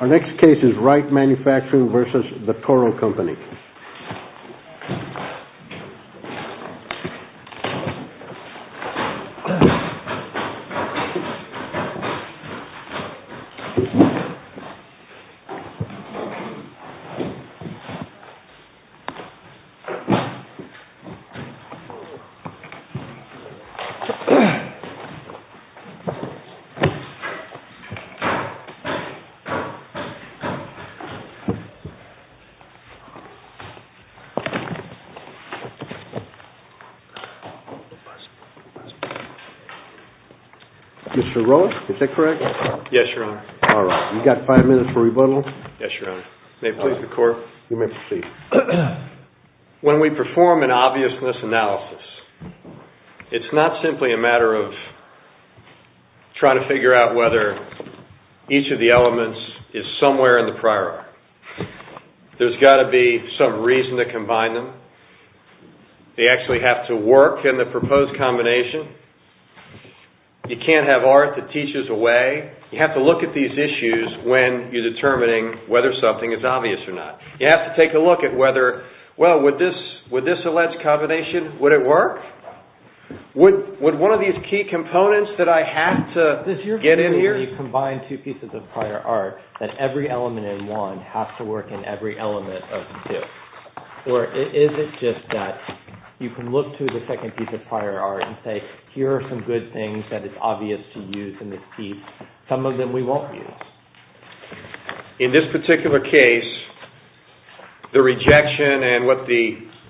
Our next case is Wright Manufacturing v. The Toro Company. When we perform an obviousness analysis, it's not simply a matter of trying to figure out whether each of the elements is somewhere in the prior arc. There's got to be some reason to combine them. They actually have to work in the proposed combination. You can't have art that teaches away. You have to look at these issues when you're determining whether something is obvious or not. You have to take a look at whether, well, would this alleged combination, would it work? Would one of these key components that I have to get in here? Does your view is that when you combine two pieces of prior art, that every element in one has to work in every element of two? Or is it just that you can look to the second piece of prior art and say, here are some good things that it's obvious to use in this piece, some of them we won't use? In this particular case, the rejection and what the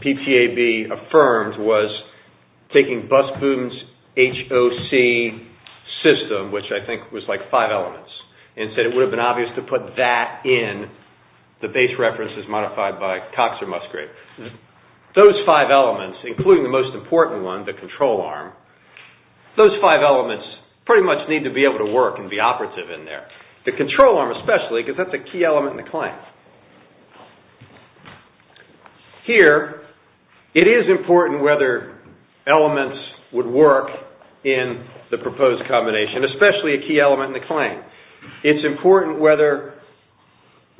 PTAB affirmed was taking Busboom's HOC system, which I think was like five elements, and said it would have been obvious to put that in the base references modified by Cox or Musgrave. Those five elements, including the most important one, the control arm, those five elements pretty much need to be able to work and be operative in there. The control arm especially, because that's a key element in the claim. Here, it is important whether elements would work in the proposed combination, especially a key element in the claim. It's important whether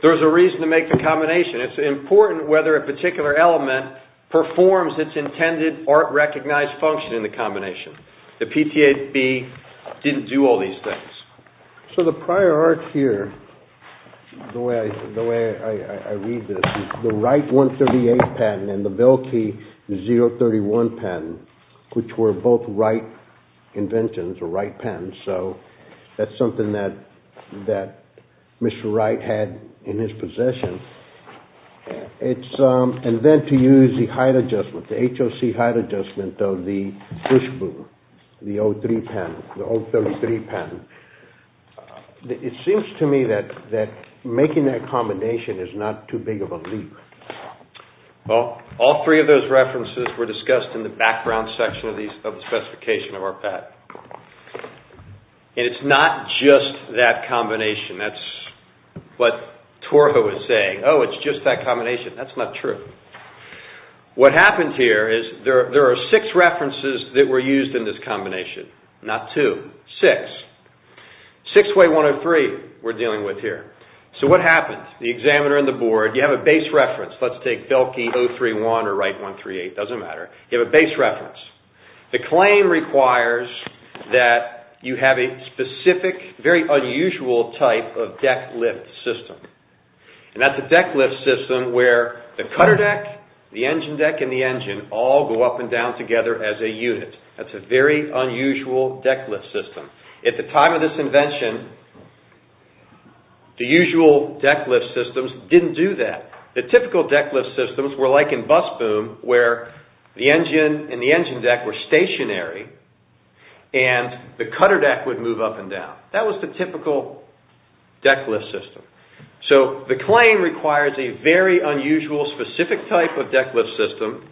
there's a reason to make the combination. It's important whether a particular element performs its intended art-recognized function in the combination. The PTAB didn't do all these things. So the prior art here, the way I read this, the Wright 138 patent and the Velke 031 patent, which were both Wright inventions or Wright patents, so that's something that Mr. Wright had in his possession. And then to use the height adjustment, the HOC height adjustment of the Busboom, the 033 patent. It seems to me that making that combination is not too big of a leap. Well, all three of those references were discussed in the background section of the specification of our patent. And it's not just that combination. That's what Torja was saying. Oh, it's just that combination. That's not true. What happens here is there are six references that were used in this combination. Not two. Six. Six way 103 we're dealing with here. So what happens? The examiner and the board, you have a base reference. Let's take Velke 031 or Wright 138. It doesn't matter. You have a base reference. The claim requires that you have a specific, very unusual type of deck lift system. And that's a deck lift system where the cutter deck, the engine deck, and the engine all go up and down together as a unit. That's a very unusual deck lift system. At the time of this invention, the usual deck lift systems didn't do that. The typical deck lift systems were like in bus boom where the engine and the engine deck were stationary and the cutter deck would move up and down. That was the typical deck lift system. So the claim requires a very unusual, specific type of deck lift system.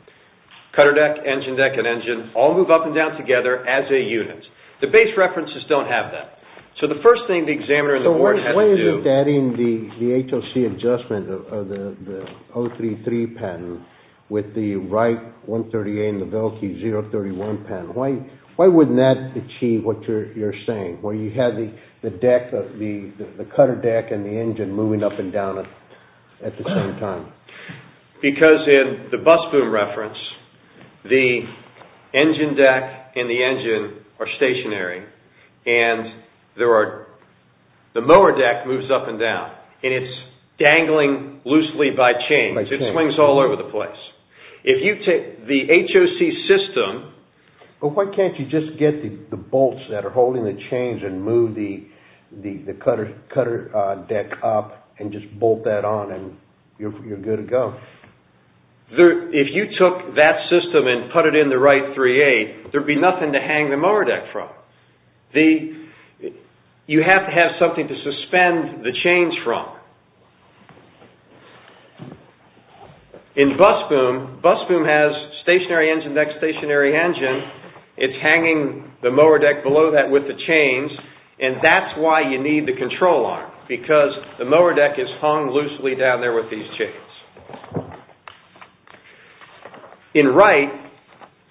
Cutter deck, engine deck, and engine all move up and down together as a unit. The base references don't have that. So the first thing the examiner and the board had to do... So why isn't adding the HOC adjustment of the 033 pattern with the Wright 138 and the Velke 031 pattern? Why wouldn't that achieve what you're saying where you have the deck, the cutter deck, and the engine moving up and down at the same time? Because in the bus boom reference, the engine deck and the engine are stationary. And the mower deck moves up and down. And it's dangling loosely by chains. It swings all over the place. If you take the HOC system... But why can't you just get the bolts that are holding the chains and move the cutter deck up and just bolt that on and you're good to go? If you took that system and put it in the Wright 38, there'd be nothing to hang the mower deck from. You have to have something to suspend the chains from. In bus boom, bus boom has stationary engine deck, stationary engine. It's hanging the mower deck below that with the chains. And that's why you need the control arm. Because the mower deck is hung loosely down there with these chains. In Wright,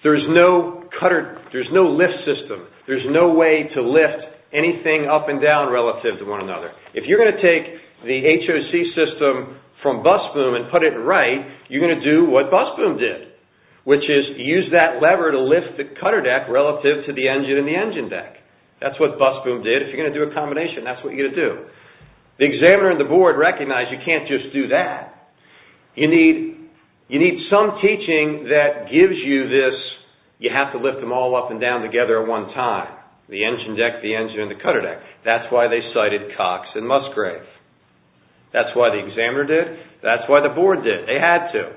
there's no lift system. There's no way to lift anything up and down relative to one another. If you're going to take the HOC system from bus boom and put it in Wright, you're going to do what bus boom did. Which is use that lever to lift the cutter deck relative to the engine and the engine deck. That's what bus boom did. If you're going to do a combination, that's what you're going to do. The examiner and the board recognize you can't just do that. You need some teaching that gives you this, you have to lift them all up and down together at one time. The engine deck, the engine, and the cutter deck. That's why they cited Cox and Musgrave. That's why the examiner did. That's why the board did. They had to.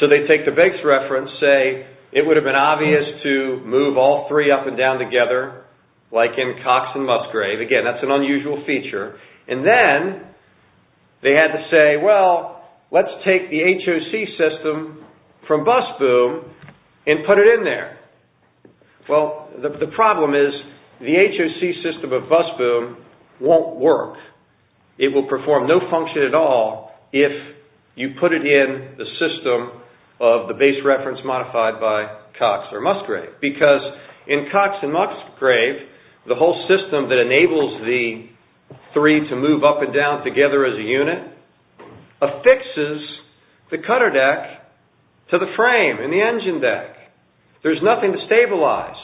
So they take the base reference, say it would have been obvious to move all three up and down together like in Cox and Musgrave. Again, that's an unusual feature. Then they had to say, well, let's take the HOC system from bus boom and put it in there. Well, the problem is the HOC system of bus boom won't work. It will perform no function at all if you put it in the system of the base reference modified by Cox or Musgrave. Because in Cox and Musgrave, the whole system that enables the three to move up and down together as a unit affixes the cutter deck to the frame and the engine deck. There's nothing to stabilize.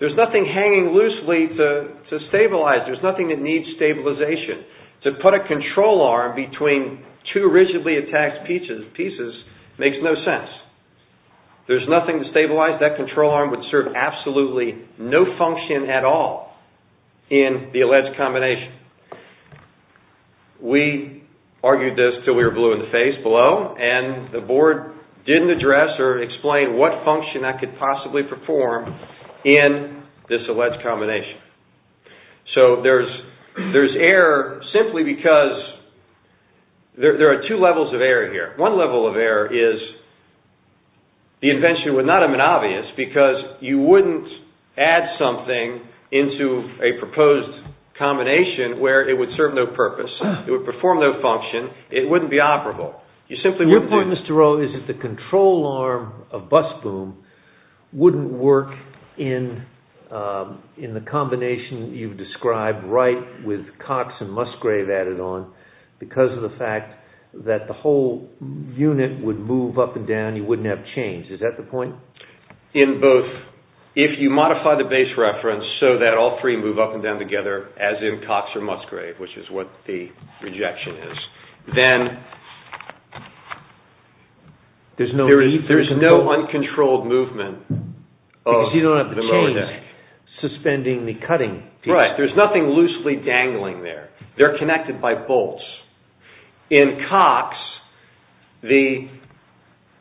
There's nothing hanging loosely to stabilize. There's nothing that needs stabilization. To put a control arm between two rigidly attached pieces makes no sense. There's nothing to stabilize. That control arm would serve absolutely no function at all in the alleged combination. We argued this until we were blue in the face below, and the board didn't address or explain what function I could possibly perform in this alleged combination. So there's error simply because there are two levels of error here. One level of error is the invention would not have been obvious because you wouldn't add something into a proposed combination where it would serve no purpose. It would perform no function. It wouldn't be operable. Your point, Mr. Rowe, is that the control arm of bus boom wouldn't work in the combination you've described right with Cox and Musgrave added on because of the fact that the whole unit would move up and down. You wouldn't have change. Is that the point? If you modify the base reference so that all three move up and down together as in Cox or Musgrave, which is what the rejection is, then there's no uncontrolled movement of the lower deck. Because you don't have the change suspending the cutting piece. Right. There's nothing loosely dangling there. They're connected by bolts. In Cox, the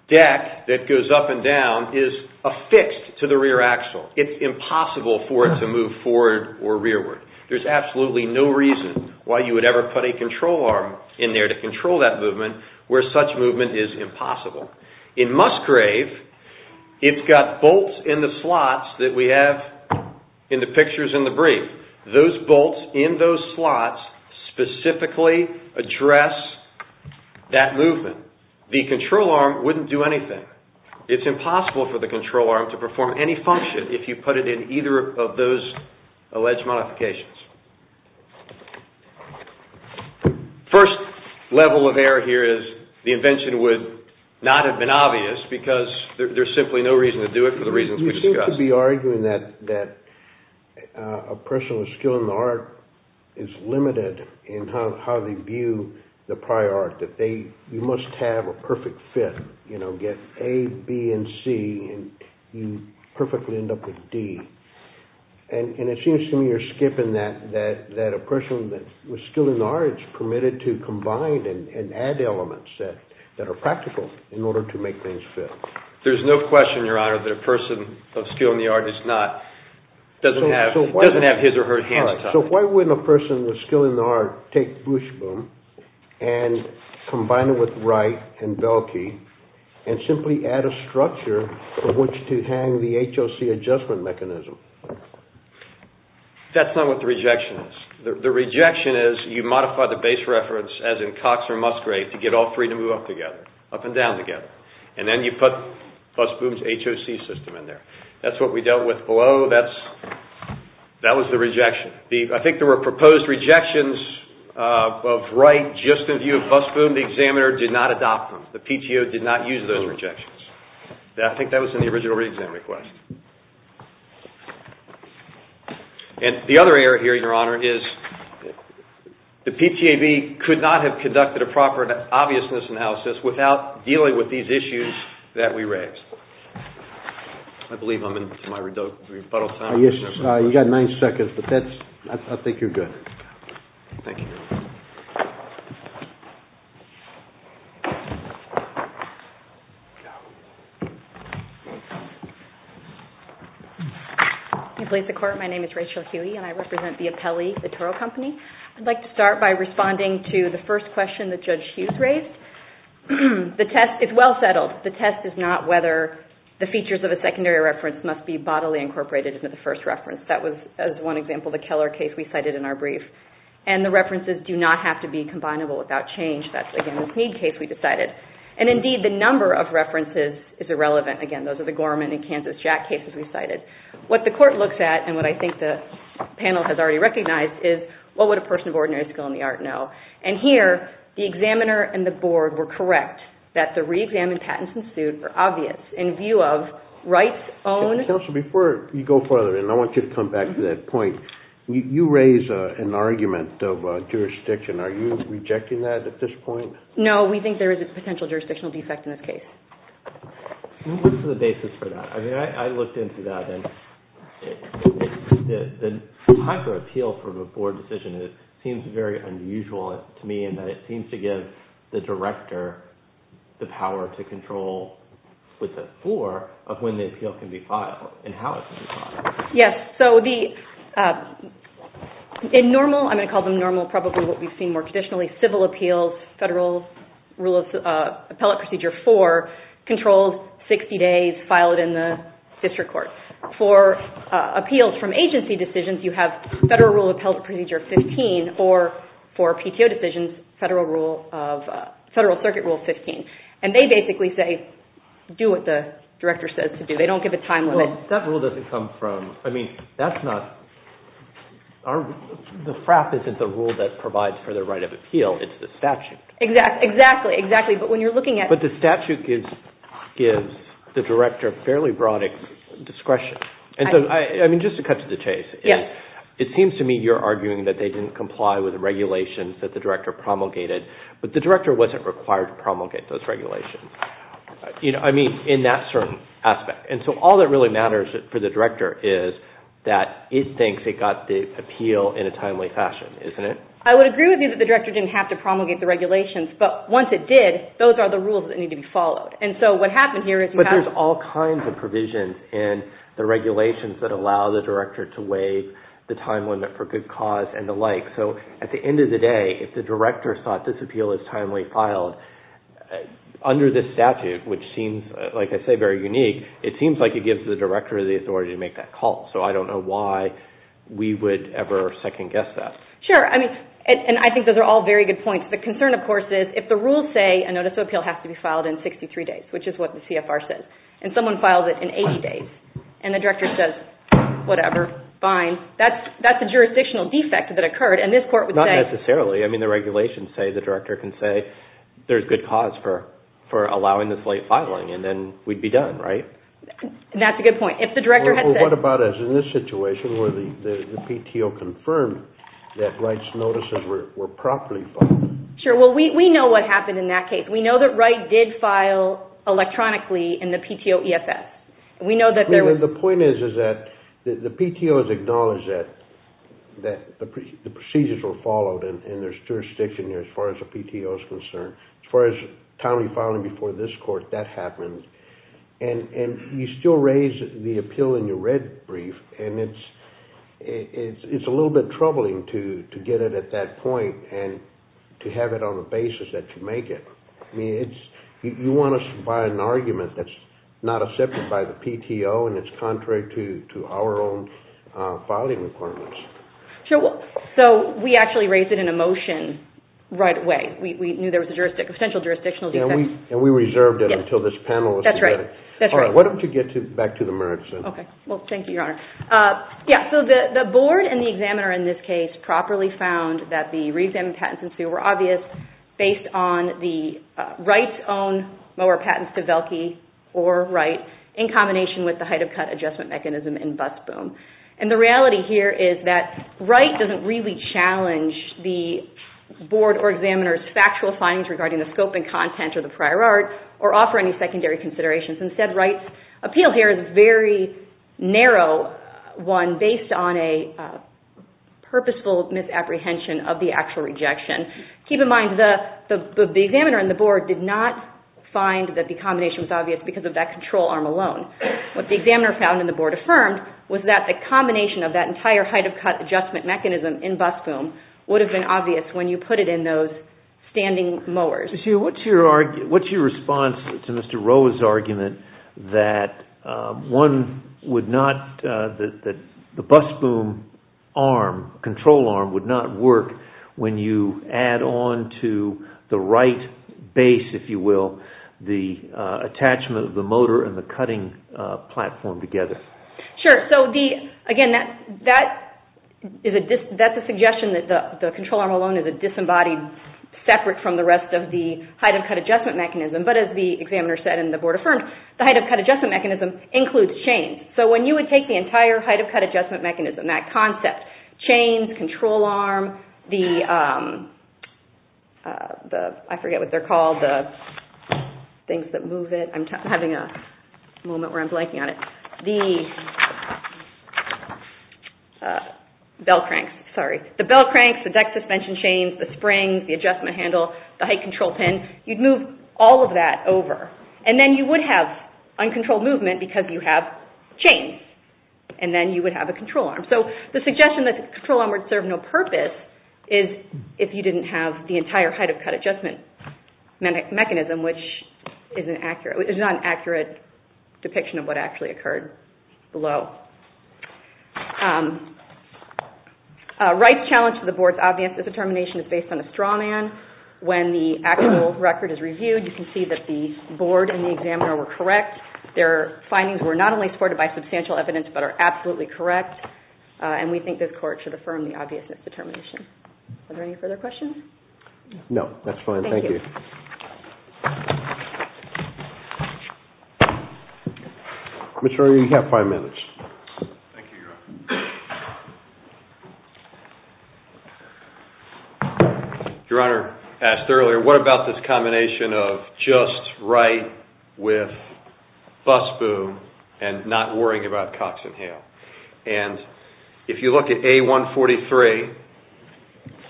deck that goes up and down is affixed to the rear axle. It's impossible for it to move forward or rearward. There's absolutely no reason why you would ever put a control arm in there to control that movement where such movement is impossible. In Musgrave, it's got bolts in the slots that we have in the pictures in the brief. Those bolts in those slots specifically address that movement. The control arm wouldn't do anything. It's impossible for the control arm to perform any function if you put it in either of those alleged modifications. First level of error here is the invention would not have been obvious because there's simply no reason to do it for the reasons we discussed. You seem to be arguing that a person with skill in the art is limited in how they view the prior art. That you must have a perfect fit. Get A, B, and C, and you perfectly end up with D. It seems to me you're skipping that a person with skill in the art is permitted to combine and add elements that are practical in order to make things fit. There's no question, Your Honor, that a person of skill in the art doesn't have his or her hand on top. So why wouldn't a person with skill in the art take Bush Boom and combine it with Wright and Belkey and simply add a structure for which to hang the HOC adjustment mechanism? That's not what the rejection is. The rejection is you modify the base reference as in Cox or Musgrave to get all three to move up together, up and down together. And then you put Bush Boom's HOC system in there. That's what we dealt with below. That was the rejection. I think there were proposed rejections of Wright just in view of Bush Boom. The examiner did not adopt them. The PTO did not use those rejections. I think that was in the original re-exam request. And the other error here, Your Honor, is the PTAB could not have conducted a proper obviousness analysis without dealing with these issues that we raised. I believe I'm in my rebuttal time. Yes, you've got nine seconds, but I think you're good. Thank you, Your Honor. Please, the Court. My name is Rachel Huey, and I represent the appellee, the Toro Company. I'd like to start by responding to the first question that Judge Hughes raised. The test is well settled. The test is not whether the features of a secondary reference must be bodily incorporated into the first reference. That was, as one example, the Keller case we cited in our brief. And the references do not have to be combinable without change. That's, again, the Snead case we decided. And, indeed, the number of references is irrelevant. Again, those are the Gorman and Kansas Jack cases we cited. What the Court looks at, and what I think the panel has already recognized, is what would a person of ordinary skill in the art know? And here, the examiner and the board were correct that the reexamined patents ensued were obvious in view of rights-owned... Counsel, before you go further, and I want you to come back to that point, you raise an argument of jurisdiction. Are you rejecting that at this point? No, we think there is a potential jurisdictional defect in this case. What's the basis for that? I mean, I looked into that, and the type of appeal from a board decision seems very unusual to me, in that it seems to give the director the power to control with the floor of when the appeal can be filed and how it can be filed. Yes, so the... In normal, I'm going to call them normal, probably what we've seen more traditionally, civil appeals, Federal Rule of Appellate Procedure 4 controls 60 days filed in the district court. For appeals from agency decisions, you have Federal Rule of Appellate Procedure 15, or for PTO decisions, Federal Circuit Rule 15. And they basically say, do what the director says to do. They don't give a time limit. Well, that rule doesn't come from... I mean, that's not... The FRAP isn't the rule that provides for the right of appeal. It's the statute. Exactly, exactly. But when you're looking at... But the statute gives the director fairly broad discretion. I mean, just to cut to the chase. Yes. It seems to me you're arguing that they didn't comply with the regulations that the director promulgated, but the director wasn't required to promulgate those regulations. I mean, in that certain aspect. And so all that really matters for the director is that it thinks it got the appeal in a timely fashion, isn't it? I would agree with you that the director didn't have to promulgate the regulations, but once it did, those are the rules that need to be followed. And so what happened here is... But there's all kinds of provisions in the regulations that allow the director to waive the time limit for good cause and the like. So at the end of the day, if the director thought this appeal is timely filed, under this statute, which seems, like I say, very unique, it seems like it gives the director the authority to make that call. So I don't know why we would ever second-guess that. Sure. I mean, and I think those are all very good points. The concern, of course, is if the rules say a notice of appeal has to be filed in 63 days, which is what the CFR says, and someone files it in 80 days, and the director says, whatever, fine, that's a jurisdictional defect that occurred, and this court would say... ...for allowing this late filing, and then we'd be done, right? And that's a good point. If the director had said... Well, what about, as in this situation, where the PTO confirmed that Wright's notices were properly filed? Sure. Well, we know what happened in that case. We know that Wright did file electronically in the PTO EFS. I mean, the point is that the PTO has acknowledged that the procedures were followed, and there's jurisdiction there as far as the PTO is concerned. As far as timely filing before this court, that happens. And you still raise the appeal in your red brief, and it's a little bit troubling to get it at that point and to have it on the basis that you make it. I mean, you want to supply an argument that's not accepted by the PTO, and it's contrary to our own filing requirements. So, we actually raised it in a motion right away. We knew there was a potential jurisdictional defect. And we reserved it until this panel was prepared. That's right. All right. Why don't you get back to the merits, then? Okay. Well, thank you, Your Honor. Yeah, so the board and the examiner in this case properly found that the reexamined patents were obvious based on the Wright's own mower patents to Velke or Wright in combination with the height-of-cut adjustment mechanism in Bussboom. And the reality here is that Wright doesn't really challenge the board or examiner's factual findings regarding the scope and content of the prior art or offer any secondary considerations. Instead, Wright's appeal here is a very narrow one based on a purposeful misapprehension of the actual rejection. Keep in mind, the examiner and the board did not find that the combination was obvious because of that control arm alone. What the examiner found and the board affirmed was that the combination of that entire height-of-cut adjustment mechanism in Bussboom would have been obvious when you put it in those standing mowers. What's your response to Mr. Roa's argument that the Bussboom control arm would not work when you add on to the Wright base, if you will, the attachment of the motor and the cutting platform together? Sure. So again, that's a suggestion that the control arm alone is a disembodied separate from the rest of the height-of-cut adjustment mechanism. But as the examiner said and the board affirmed, the height-of-cut adjustment mechanism includes chains. So when you would take the entire height-of-cut adjustment mechanism, that concept, chains, control arm, the bell cranks, the deck suspension chains, the springs, the adjustment handle, the height control pin, you'd move all of that over. And then you would have uncontrolled movement because you have chains. And then you would have a control arm. So the suggestion that the control arm would serve no purpose is if you didn't have the entire height-of-cut adjustment mechanism, which is not an accurate depiction of what actually occurred below. Wright's challenge to the board's obvious determination is based on a straw man. When the actual record is reviewed, you can see that the board and the examiner were correct. Their findings were not only supported by substantial evidence but are absolutely correct. And we think this court should affirm the obviousness determination. Are there any further questions? No. That's fine. Thank you. Thank you. Mr. Ernie, you have five minutes. Thank you, Your Honor. Your Honor asked earlier, what about this combination of just Wright with Busboo and not worrying about Cox and Hale? And if you look at A143,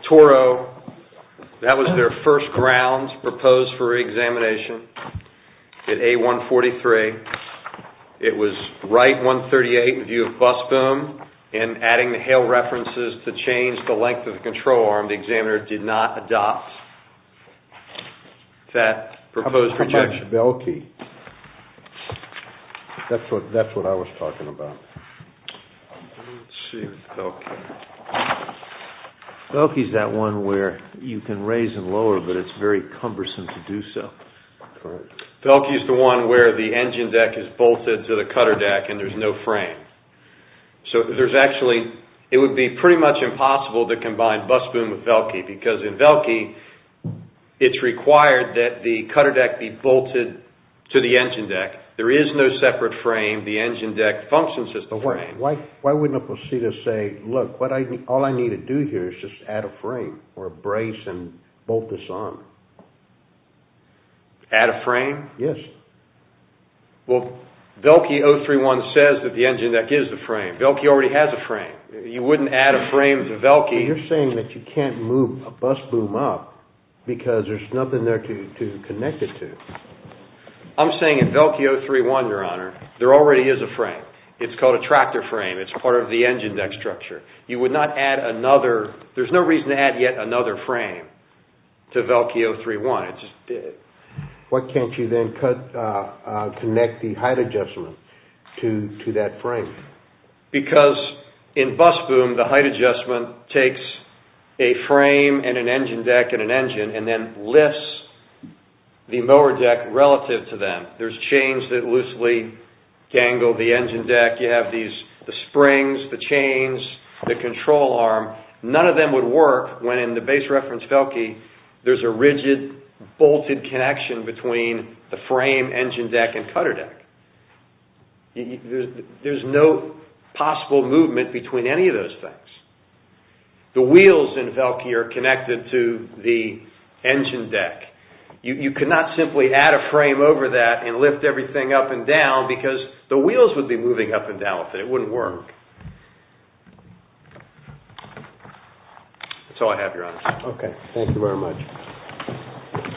Toro, that was their first ground proposed for examination at A143. It was Wright 138 in view of Busboo and adding the Hale references to change the length of the control arm. The examiner did not adopt that proposed projection. And Velke, that's what I was talking about. Let's see. Velke. Velke is that one where you can raise and lower but it's very cumbersome to do so. Velke is the one where the engine deck is bolted to the cutter deck and there's no frame. So there's actually, it would be pretty much impossible to combine Busboo with Velke because in Velke, it's required that the cutter deck be bolted to the engine deck. There is no separate frame. The engine deck functions as the frame. Why wouldn't a procedure say, look, all I need to do here is just add a frame or a brace and bolt this on? Add a frame? Yes. Well, Velke 031 says that the engine deck is the frame. Velke already has a frame. You wouldn't add a frame to Velke. You're saying that you can't move a Busboo up because there's nothing there to connect it to. I'm saying in Velke 031, Your Honor, there already is a frame. It's called a tractor frame. It's part of the engine deck structure. You would not add another, there's no reason to add yet another frame to Velke 031. Why can't you then connect the height adjustment to that frame? Because in Busboo, the height adjustment takes a frame and an engine deck and an engine and then lifts the mower deck relative to them. There's chains that loosely dangle the engine deck. You have the springs, the chains, the control arm. None of them would work when in the base reference Velke, there's a rigid, bolted connection between the frame, engine deck, and cutter deck. There's no possible movement between any of those things. The wheels in Velke are connected to the engine deck. You cannot simply add a frame over that and lift everything up and down because the wheels would be moving up and down with it. It wouldn't work. That's all I have, Your Honor. Okay. Thank you very much.